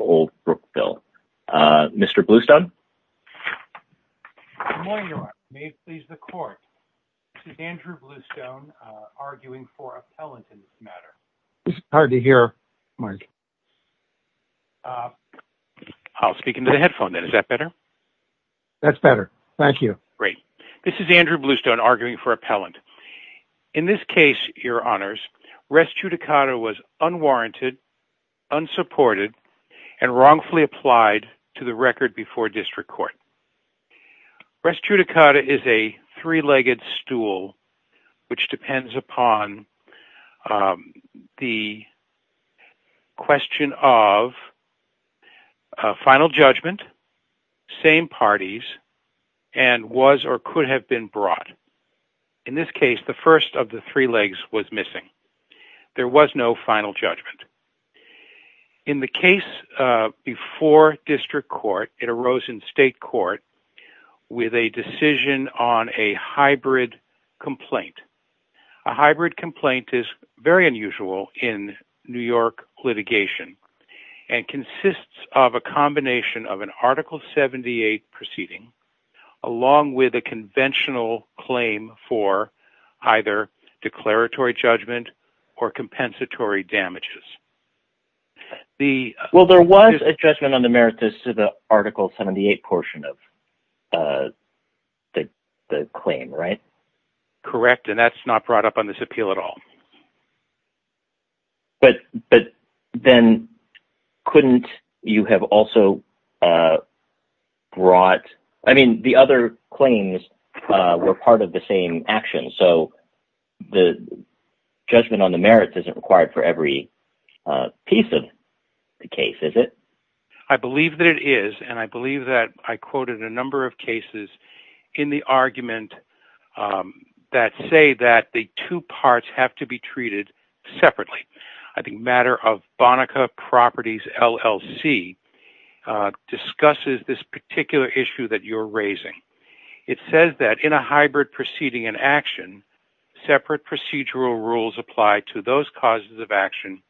Old Brookville. Mr. Bluestone? Good morning Your Honor. May it please the court. This is Andrew Bluestone, arguing for appellant in this matter. It's hard to hear, Mark. I'll speak into the headphone then. Is that better? That's better. Thank you. Great. This is Andrew Bluestone, arguing for appellant. In this case, Your Honors, res judicata was unwarranted, unsupported, and wrongfully applied to the record before district court. Res judicata is a three-legged stool which depends upon the question of final judgment, same parties, and was or could have been brought. In this case, the first of the three legs was missing. There was no final judgment. In the case before district court, it arose in state court with a decision on a hybrid complaint. A hybrid complaint is very unusual in New York litigation and consists of a combination of an Article 78 proceeding along with a conventional claim for either declaratory judgment or compensatory damages. Well, there was a judgment on the merits to the Article 78 portion of the claim, right? Correct, and that's not brought up on this appeal at all. But then couldn't you have also brought – I mean, the other claims were part of the same action, so the judgment on the merits isn't required for every piece of the case, is it? I believe that it is, and I believe that I quoted a number of cases in the argument that say that the two parts have to be treated separately. I think matter of Bonica Properties LLC discusses this particular issue that you're raising. It says that in a hybrid proceeding and action, separate procedural rules apply to those causes of action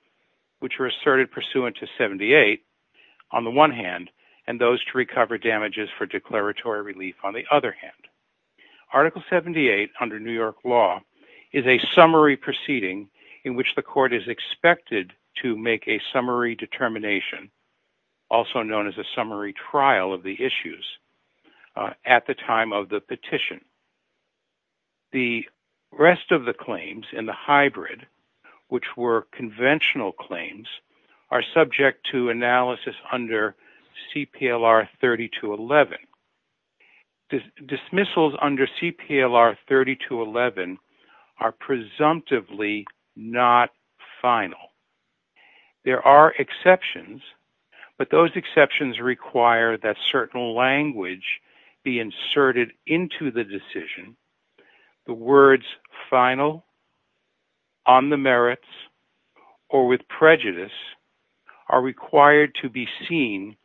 which are asserted pursuant to 78, on the one hand, and those to recover damages for declaratory relief on the other hand. Article 78 under New York law is a summary proceeding in which the court is expected to make a summary determination, also known as a summary trial of the issues, at the time of the petition. The rest of the claims in the hybrid, which were conventional claims, are subject to analysis under CPLR 3211. Dismissals under CPLR 3211 are presumptively not final. There are exceptions, but those exceptions require that certain language be inserted into the decision. The words final, on the merits, or with prejudice are required to be seen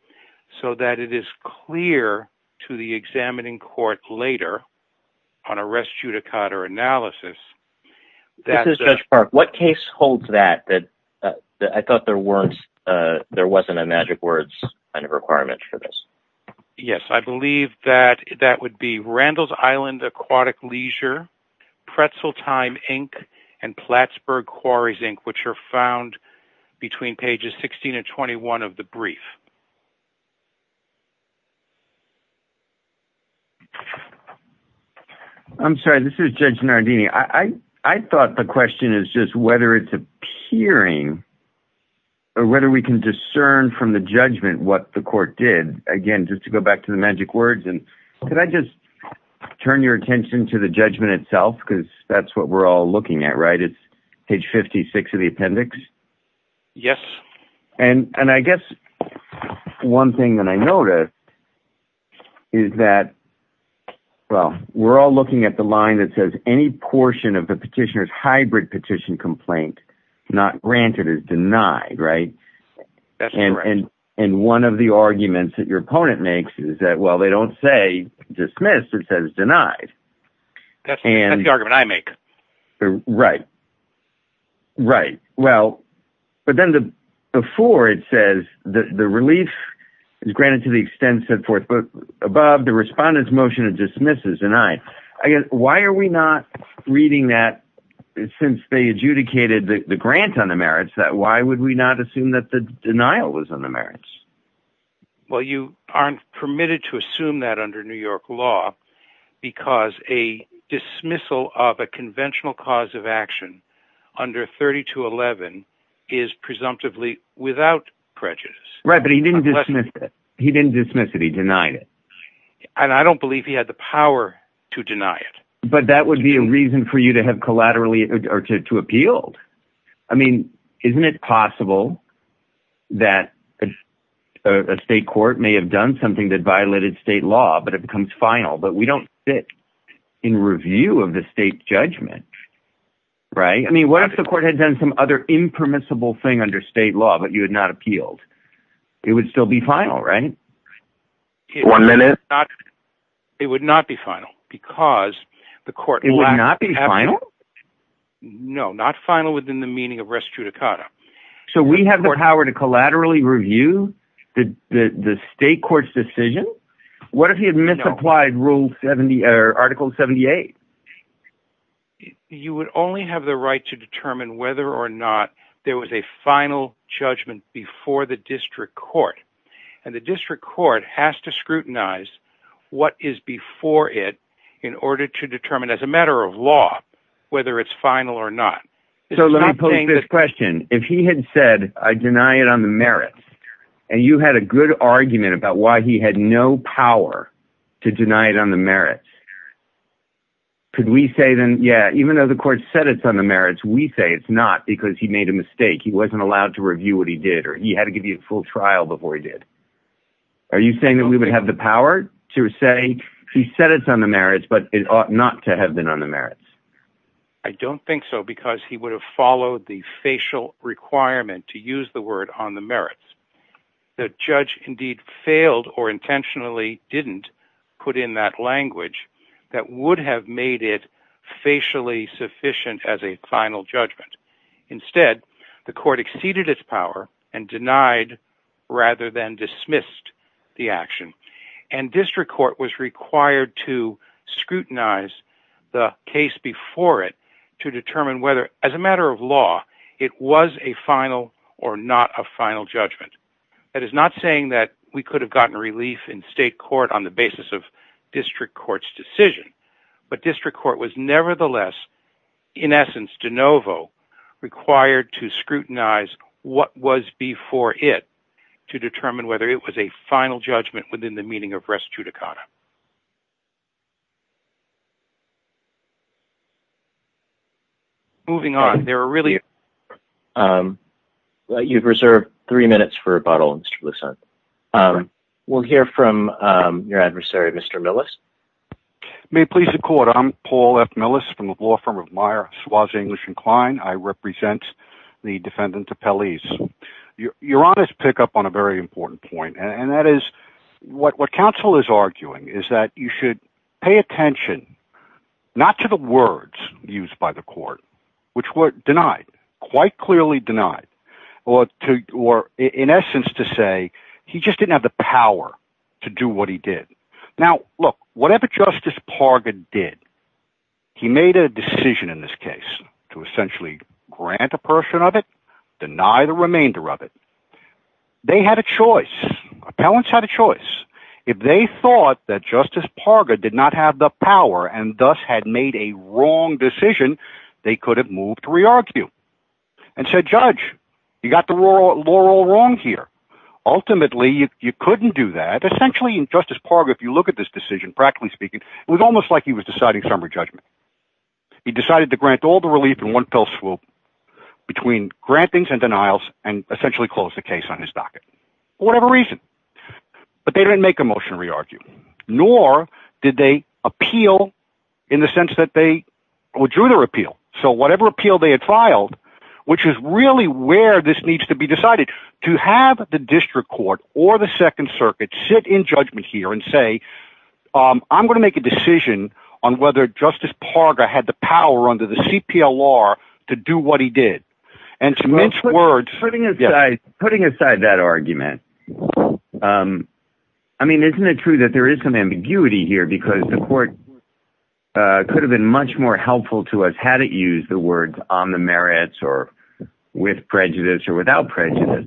so that it is clear to the examining court later on a res judicata analysis. This is Judge Park. What case holds that I thought there wasn't a magic words requirement for this? Yes, I believe that that would be Randall's Island Aquatic Leisure, Pretzel Time, Inc., and Plattsburgh Quarries, Inc., which are found between pages 16 and 21 of the brief. I'm sorry. This is Judge Nardini. I thought the question is just whether it's appearing, or whether we can discern from the judgment what the court did. Again, just to go back to the magic words, and could I just turn your attention to the judgment itself, because that's what we're all looking at, right? It's page 56 of the appendix. Yes. And I guess one thing that I noticed is that, well, we're all looking at the line that says any portion of the petitioner's hybrid petition complaint not granted is denied, right? That's correct. And one of the arguments that your opponent makes is that, well, they don't say dismissed, it says denied. That's the argument I make. Right. Right. Well, but then before it says the relief is granted to the extent set forth above the respondent's motion of dismissal is denied. Why are we not reading that since they adjudicated the grant on the merits? Why would we not assume that the denial was on the merits? Well, you aren't permitted to assume that under New York law, because a dismissal of a conventional cause of action under 3211 is presumptively without prejudice. Right, but he didn't dismiss it. He didn't dismiss it. He denied it. And I don't believe he had the power to deny it. But that would be a reason for you to have collaterally or to appealed. I mean, isn't it possible that a state court may have done something that violated state law, but it becomes final, but we don't sit in review of the state judgment. Right. I mean, what if the court had done some other impermissible thing under state law, but you had not appealed? It would still be final, right? One minute. It would not be final because the court… It would not be final? No, not final within the meaning of res judicata. So we have the power to collaterally review the state court's decision? What if he had misapplied Article 78? You would only have the right to determine whether or not there was a final judgment before the district court. And the district court has to scrutinize what is before it in order to determine as a matter of law whether it's final or not. So let me pose this question. If he had said, I deny it on the merits, and you had a good argument about why he had no power to deny it on the merits, could we say then, yeah, even though the court said it's on the merits, we say it's not because he made a mistake. He wasn't allowed to review what he did, or he had to give you a full trial before he did. Are you saying that we would have the power to say he said it's on the merits, but it ought not to have been on the merits? I don't think so, because he would have followed the facial requirement to use the word on the merits. The judge indeed failed or intentionally didn't put in that language that would have made it facially sufficient as a final judgment. Instead, the court exceeded its power and denied rather than dismissed the action. And district court was required to scrutinize the case before it to determine whether as a matter of law it was a final or not a final judgment. That is not saying that we could have gotten relief in state court on the basis of district court's decision. But district court was nevertheless, in essence, de novo, required to scrutinize what was before it to determine whether it was a final judgment within the meaning of res judicata. Moving on, there are really... You've reserved three minutes for rebuttal, Mr. Lucent. We'll hear from your adversary, Mr. Millis. May it please the court, I'm Paul F. Millis from the law firm of Meyer, Suase, English & Kline. I represent the defendant, Apelles. Your Honor's pick up on a very important point, and that is what counsel is arguing is that you should pay attention not to the words used by the court, which were denied, quite clearly denied, or in essence to say he just didn't have the power to do what he did. Now, look, whatever Justice Parger did, he made a decision in this case to essentially grant a portion of it, deny the remainder of it. They had a choice. Apelles had a choice. If they thought that Justice Parger did not have the power and thus had made a wrong decision, they could have moved to re-argue and said, Judge, you got the law wrong here. Ultimately, you couldn't do that. Essentially, Justice Parger, if you look at this decision, practically speaking, it was almost like he was deciding summary judgment. He decided to grant all the relief in one fell swoop between grantings and denials and essentially close the case on his docket for whatever reason. But they didn't make a motion to re-argue, nor did they appeal in the sense that they withdrew their appeal. So whatever appeal they had filed, which is really where this needs to be decided, to have the district court or the second circuit sit in judgment here and say, I'm going to make a decision on whether Justice Parger had the power under the CPLR to do what he did. Putting aside that argument, isn't it true that there is some ambiguity here because the court could have been much more helpful to us had it used the words on the merits or with prejudice or without prejudice.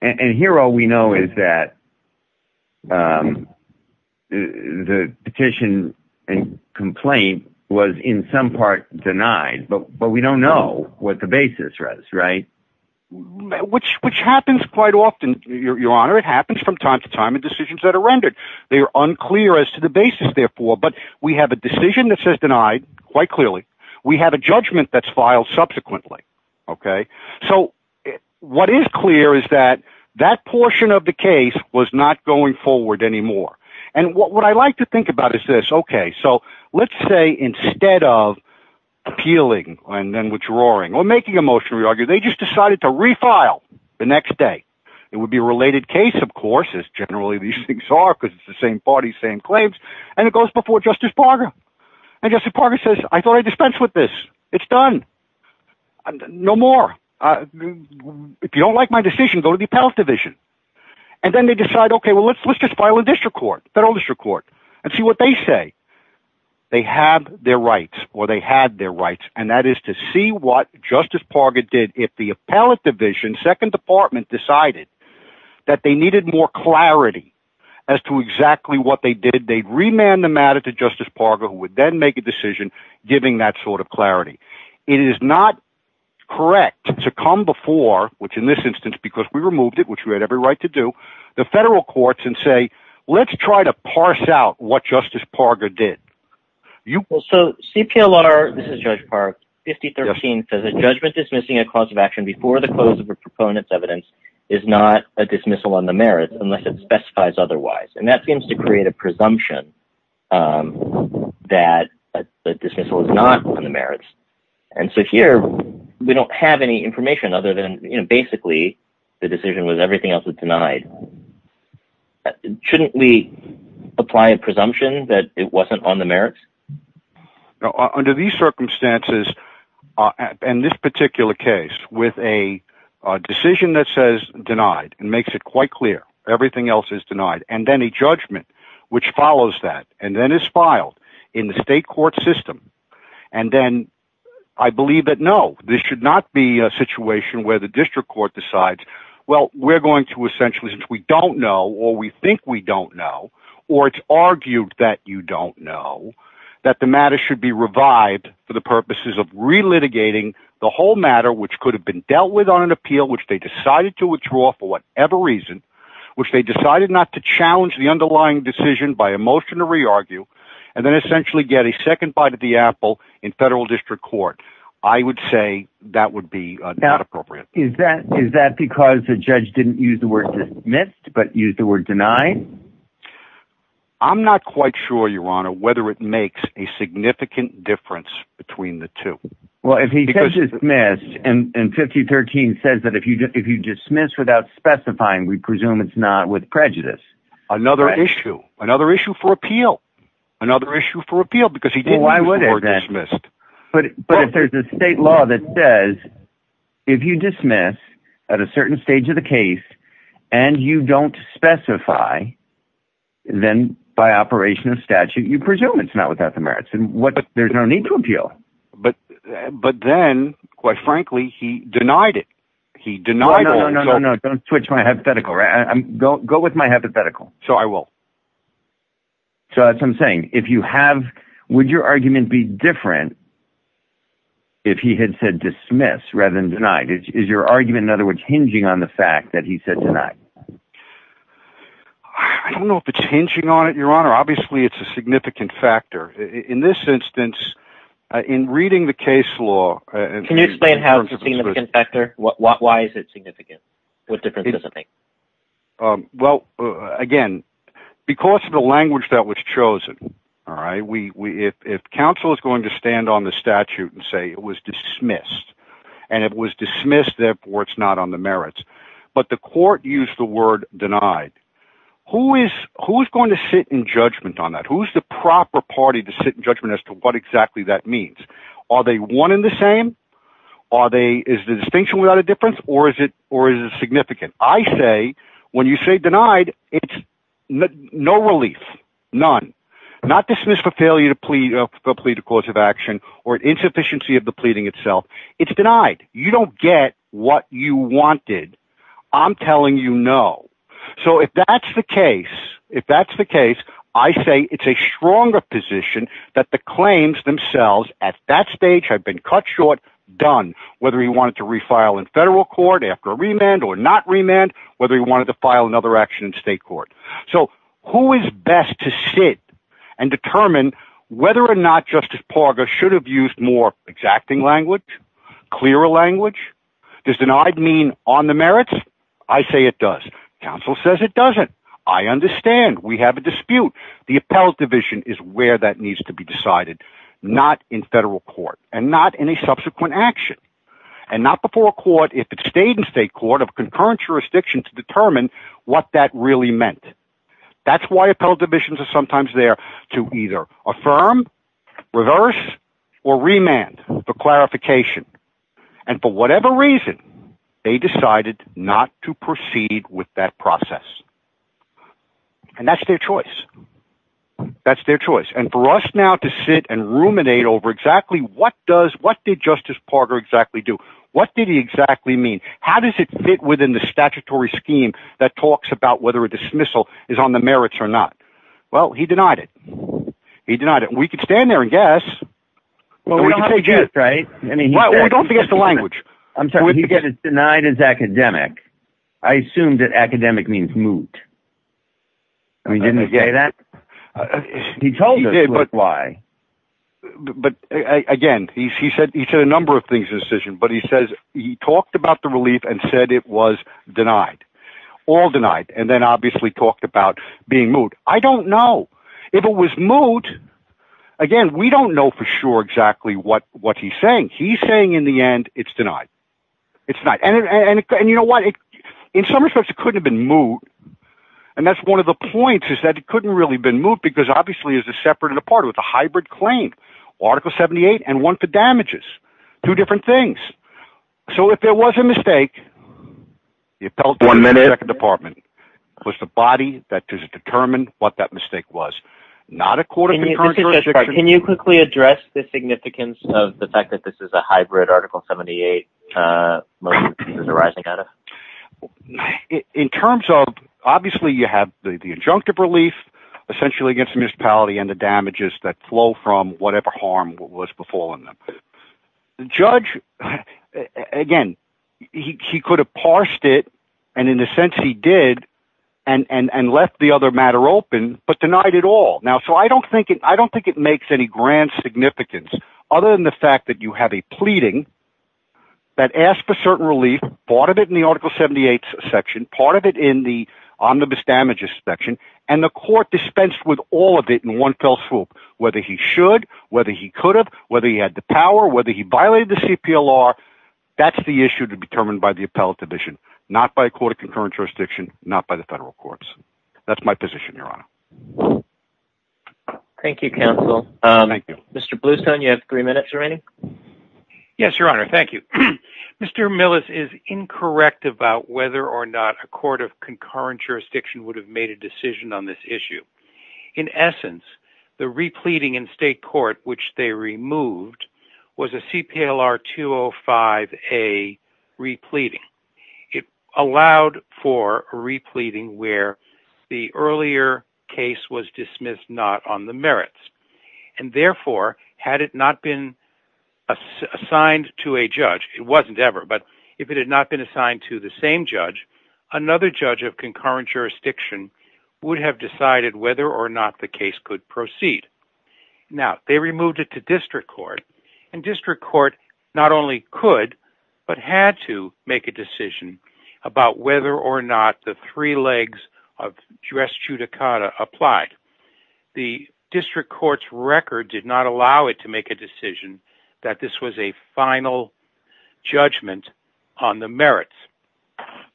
And here all we know is that the petition and complaint was in some part denied, but we don't know what the basis was, right? Which happens quite often, Your Honor. It happens from time to time in decisions that are rendered. They are unclear as to the basis, therefore, but we have a decision that says denied quite clearly. We have a judgment that's filed subsequently. So what is clear is that that portion of the case was not going forward anymore. And what I like to think about is this. Okay, so let's say instead of appealing and then withdrawing or making a motion to re-argue, they just decided to refile the next day. It would be a related case, of course, as generally these things are because it's the same parties, same claims, and it goes before Justice Parger. And Justice Parger says, I thought I'd dispense with this. It's done. No more. If you don't like my decision, go to the appellate division. And then they decide, okay, well, let's just file a district court, federal district court, and see what they say. They have their rights, or they had their rights, and that is to see what Justice Parger did if the appellate division, second department, decided that they needed more clarity as to exactly what they did. They'd remand the matter to Justice Parger, who would then make a decision giving that sort of clarity. It is not correct to come before, which in this instance, because we removed it, which we had every right to do, the federal courts and say, let's try to parse out what Justice Parger did. So CPLR, this is Judge Park, 5013, says that judgment dismissing a cause of action before the close of a proponent's evidence is not a dismissal on the merits unless it specifies otherwise. And that seems to create a presumption that a dismissal is not on the merits. And so here, we don't have any information other than basically the decision was everything else was denied. Shouldn't we apply a presumption that it wasn't on the merits? Under these circumstances, in this particular case, with a decision that says denied and makes it quite clear everything else is denied, and then a judgment which follows that and then is filed in the state court system, and then I believe that no, this should not be a situation where the district court decides, well, we're going to essentially, since we don't know or we think we don't know, or it's argued that you don't know, that the matter should be revived for the purposes of relitigating the whole matter, which could have been dealt with on an appeal, which they decided to withdraw for whatever reason, which they decided not to challenge the underlying decision by a motion to re-argue, and then essentially get a second bite at the apple in federal district court. I would say that would be not appropriate. Is that because the judge didn't use the word dismissed but used the word denied? I'm not quite sure, Your Honor, whether it makes a significant difference between the two. Well, if he says dismissed and 5013 says that if you dismiss without specifying, we presume it's not with prejudice. Another issue. Another issue for appeal. Another issue for appeal because he didn't use the word dismissed. But if there's a state law that says if you dismiss at a certain stage of the case and you don't specify, then by operation of statute, you presume it's not without the merits. There's no need to appeal. But then, quite frankly, he denied it. No, no, no. Don't switch my hypothetical. Go with my hypothetical. So I will. So that's what I'm saying. Would your argument be different if he had said dismiss rather than deny? Is your argument, in other words, hinging on the fact that he said deny? I don't know if it's hinging on it, Your Honor. Obviously, it's a significant factor. In this instance, in reading the case law… Can you explain how it's a significant factor? Why is it significant? What difference does it make? Well, again, because of the language that was chosen. If counsel is going to stand on the statute and say it was dismissed and it was dismissed, therefore it's not on the merits, but the court used the word denied, who is going to sit in judgment on that? Who's the proper party to sit in judgment as to what exactly that means? Are they one and the same? Is the distinction without a difference? Or is it significant? I say, when you say denied, it's no relief. None. Not dismissed for failure to plead a cause of action or insufficiency of the pleading itself. It's denied. You don't get what you wanted. I'm telling you no. So, if that's the case, if that's the case, I say it's a stronger position that the claims themselves at that stage have been cut short, done. Whether he wanted to refile in federal court after a remand or not remand, whether he wanted to file another action in state court. So, who is best to sit and determine whether or not Justice Parga should have used more exacting language, clearer language? Does denied mean on the merits? I say it does. Counsel says it doesn't. I understand. We have a dispute. The appellate division is where that needs to be decided. Not in federal court. And not in a subsequent action. And not before court if it stayed in state court of concurrent jurisdiction to determine what that really meant. That's why appellate divisions are sometimes there to either affirm, reverse, or remand for clarification. And for whatever reason, they decided not to proceed with that process. And that's their choice. That's their choice. And for us now to sit and ruminate over exactly what did Justice Parga exactly do? What did he exactly mean? How does it fit within the statutory scheme that talks about whether a dismissal is on the merits or not? Well, he denied it. He denied it. We could stand there and guess. Well, we don't have to guess, right? Well, we don't have to guess the language. I'm sorry, he denied it as academic. I assume that academic means moot. Didn't he say that? He told us why. But, again, he said a number of things in his decision, but he says he talked about the relief and said it was denied. All denied. And then, obviously, talked about being moot. I don't know. If it was moot, again, we don't know for sure exactly what he's saying. He's saying, in the end, it's denied. It's denied. And you know what? In some respects, it couldn't have been moot. And that's one of the points, is that it couldn't really have been moot because, obviously, it's a separate and apart. It's a hybrid claim. Article 78 and one for damages. Two different things. So, if there was a mistake, the appellate court in the second department was the body that determined what that mistake was. Not a court of concurrence. Can you quickly address the significance of the fact that this is a hybrid Article 78 motion arising out of? In terms of, obviously, you have the injunctive relief, essentially, against the municipality and the damages that flow from whatever harm was befalling them. The judge, again, he could have parsed it, and in a sense, he did, and left the other matter open, but denied it all. So, I don't think it makes any grand significance, other than the fact that you have a pleading that asks for certain relief. Part of it in the Article 78 section. Part of it in the omnibus damages section. And the court dispensed with all of it in one fell swoop. Whether he should, whether he could have, whether he had the power, whether he violated the CPLR, that's the issue to be determined by the appellate division. Not by a court of concurrence jurisdiction. Not by the federal courts. That's my position, your honor. Thank you, counsel. Mr. Bluestone, you have three minutes remaining. Yes, your honor. Thank you. Mr. Millis is incorrect about whether or not a court of concurrence jurisdiction would have made a decision on this issue. In essence, the repleting in state court, which they removed, was a CPLR 205A repleting. It allowed for a repleting where the earlier case was dismissed not on the merits. And therefore, had it not been assigned to a judge, it wasn't ever, but if it had not been assigned to the same judge, another judge of concurrence jurisdiction would have decided whether or not the case could proceed. Now, they removed it to district court. And district court not only could, but had to make a decision about whether or not the three legs of dress judicata applied. The district court's record did not allow it to make a decision that this was a final judgment on the merits.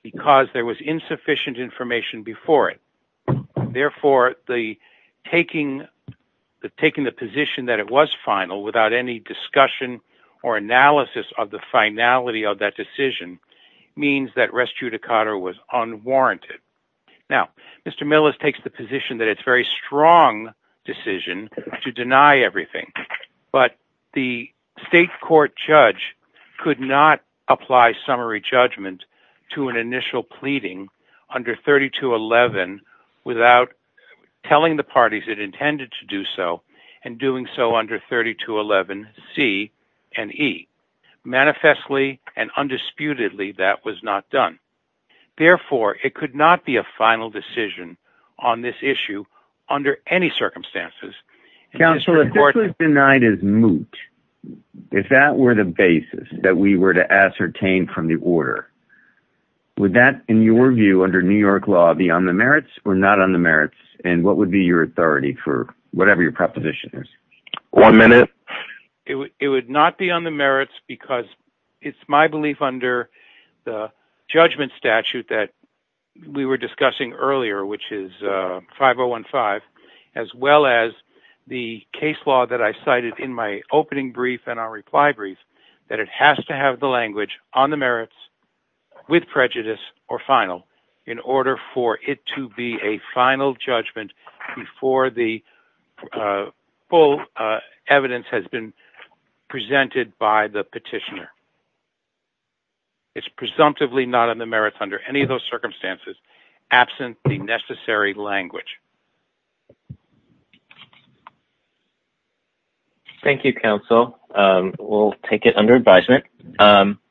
Because there was insufficient information before it. Therefore, taking the position that it was final without any discussion or analysis of the finality of that decision means that dress judicata was unwarranted. Now, Mr. Millis takes the position that it's a very strong decision to deny everything. But the state court judge could not apply summary judgment to an initial pleading under 3211 without telling the parties it intended to do so, and doing so under 3211C and E. Manifestly and undisputedly, that was not done. Therefore, it could not be a final decision on this issue under any circumstances. Counsel, if this was denied as moot, if that were the basis that we were to ascertain from the order, would that, in your view, under New York law, be on the merits or not on the merits? And what would be your authority for whatever your proposition is? One minute. It would not be on the merits because it's my belief under the judgment statute that we were discussing earlier, which is 5015, as well as the case law that I cited in my opening brief and our reply brief, that it has to have the language on the merits with prejudice or final in order for it to be a final judgment before the full evidence has been presented by the petitioner. It's presumptively not on the merits under any of those circumstances, absent the necessary language. Thank you, Counsel. We'll take it under advisement.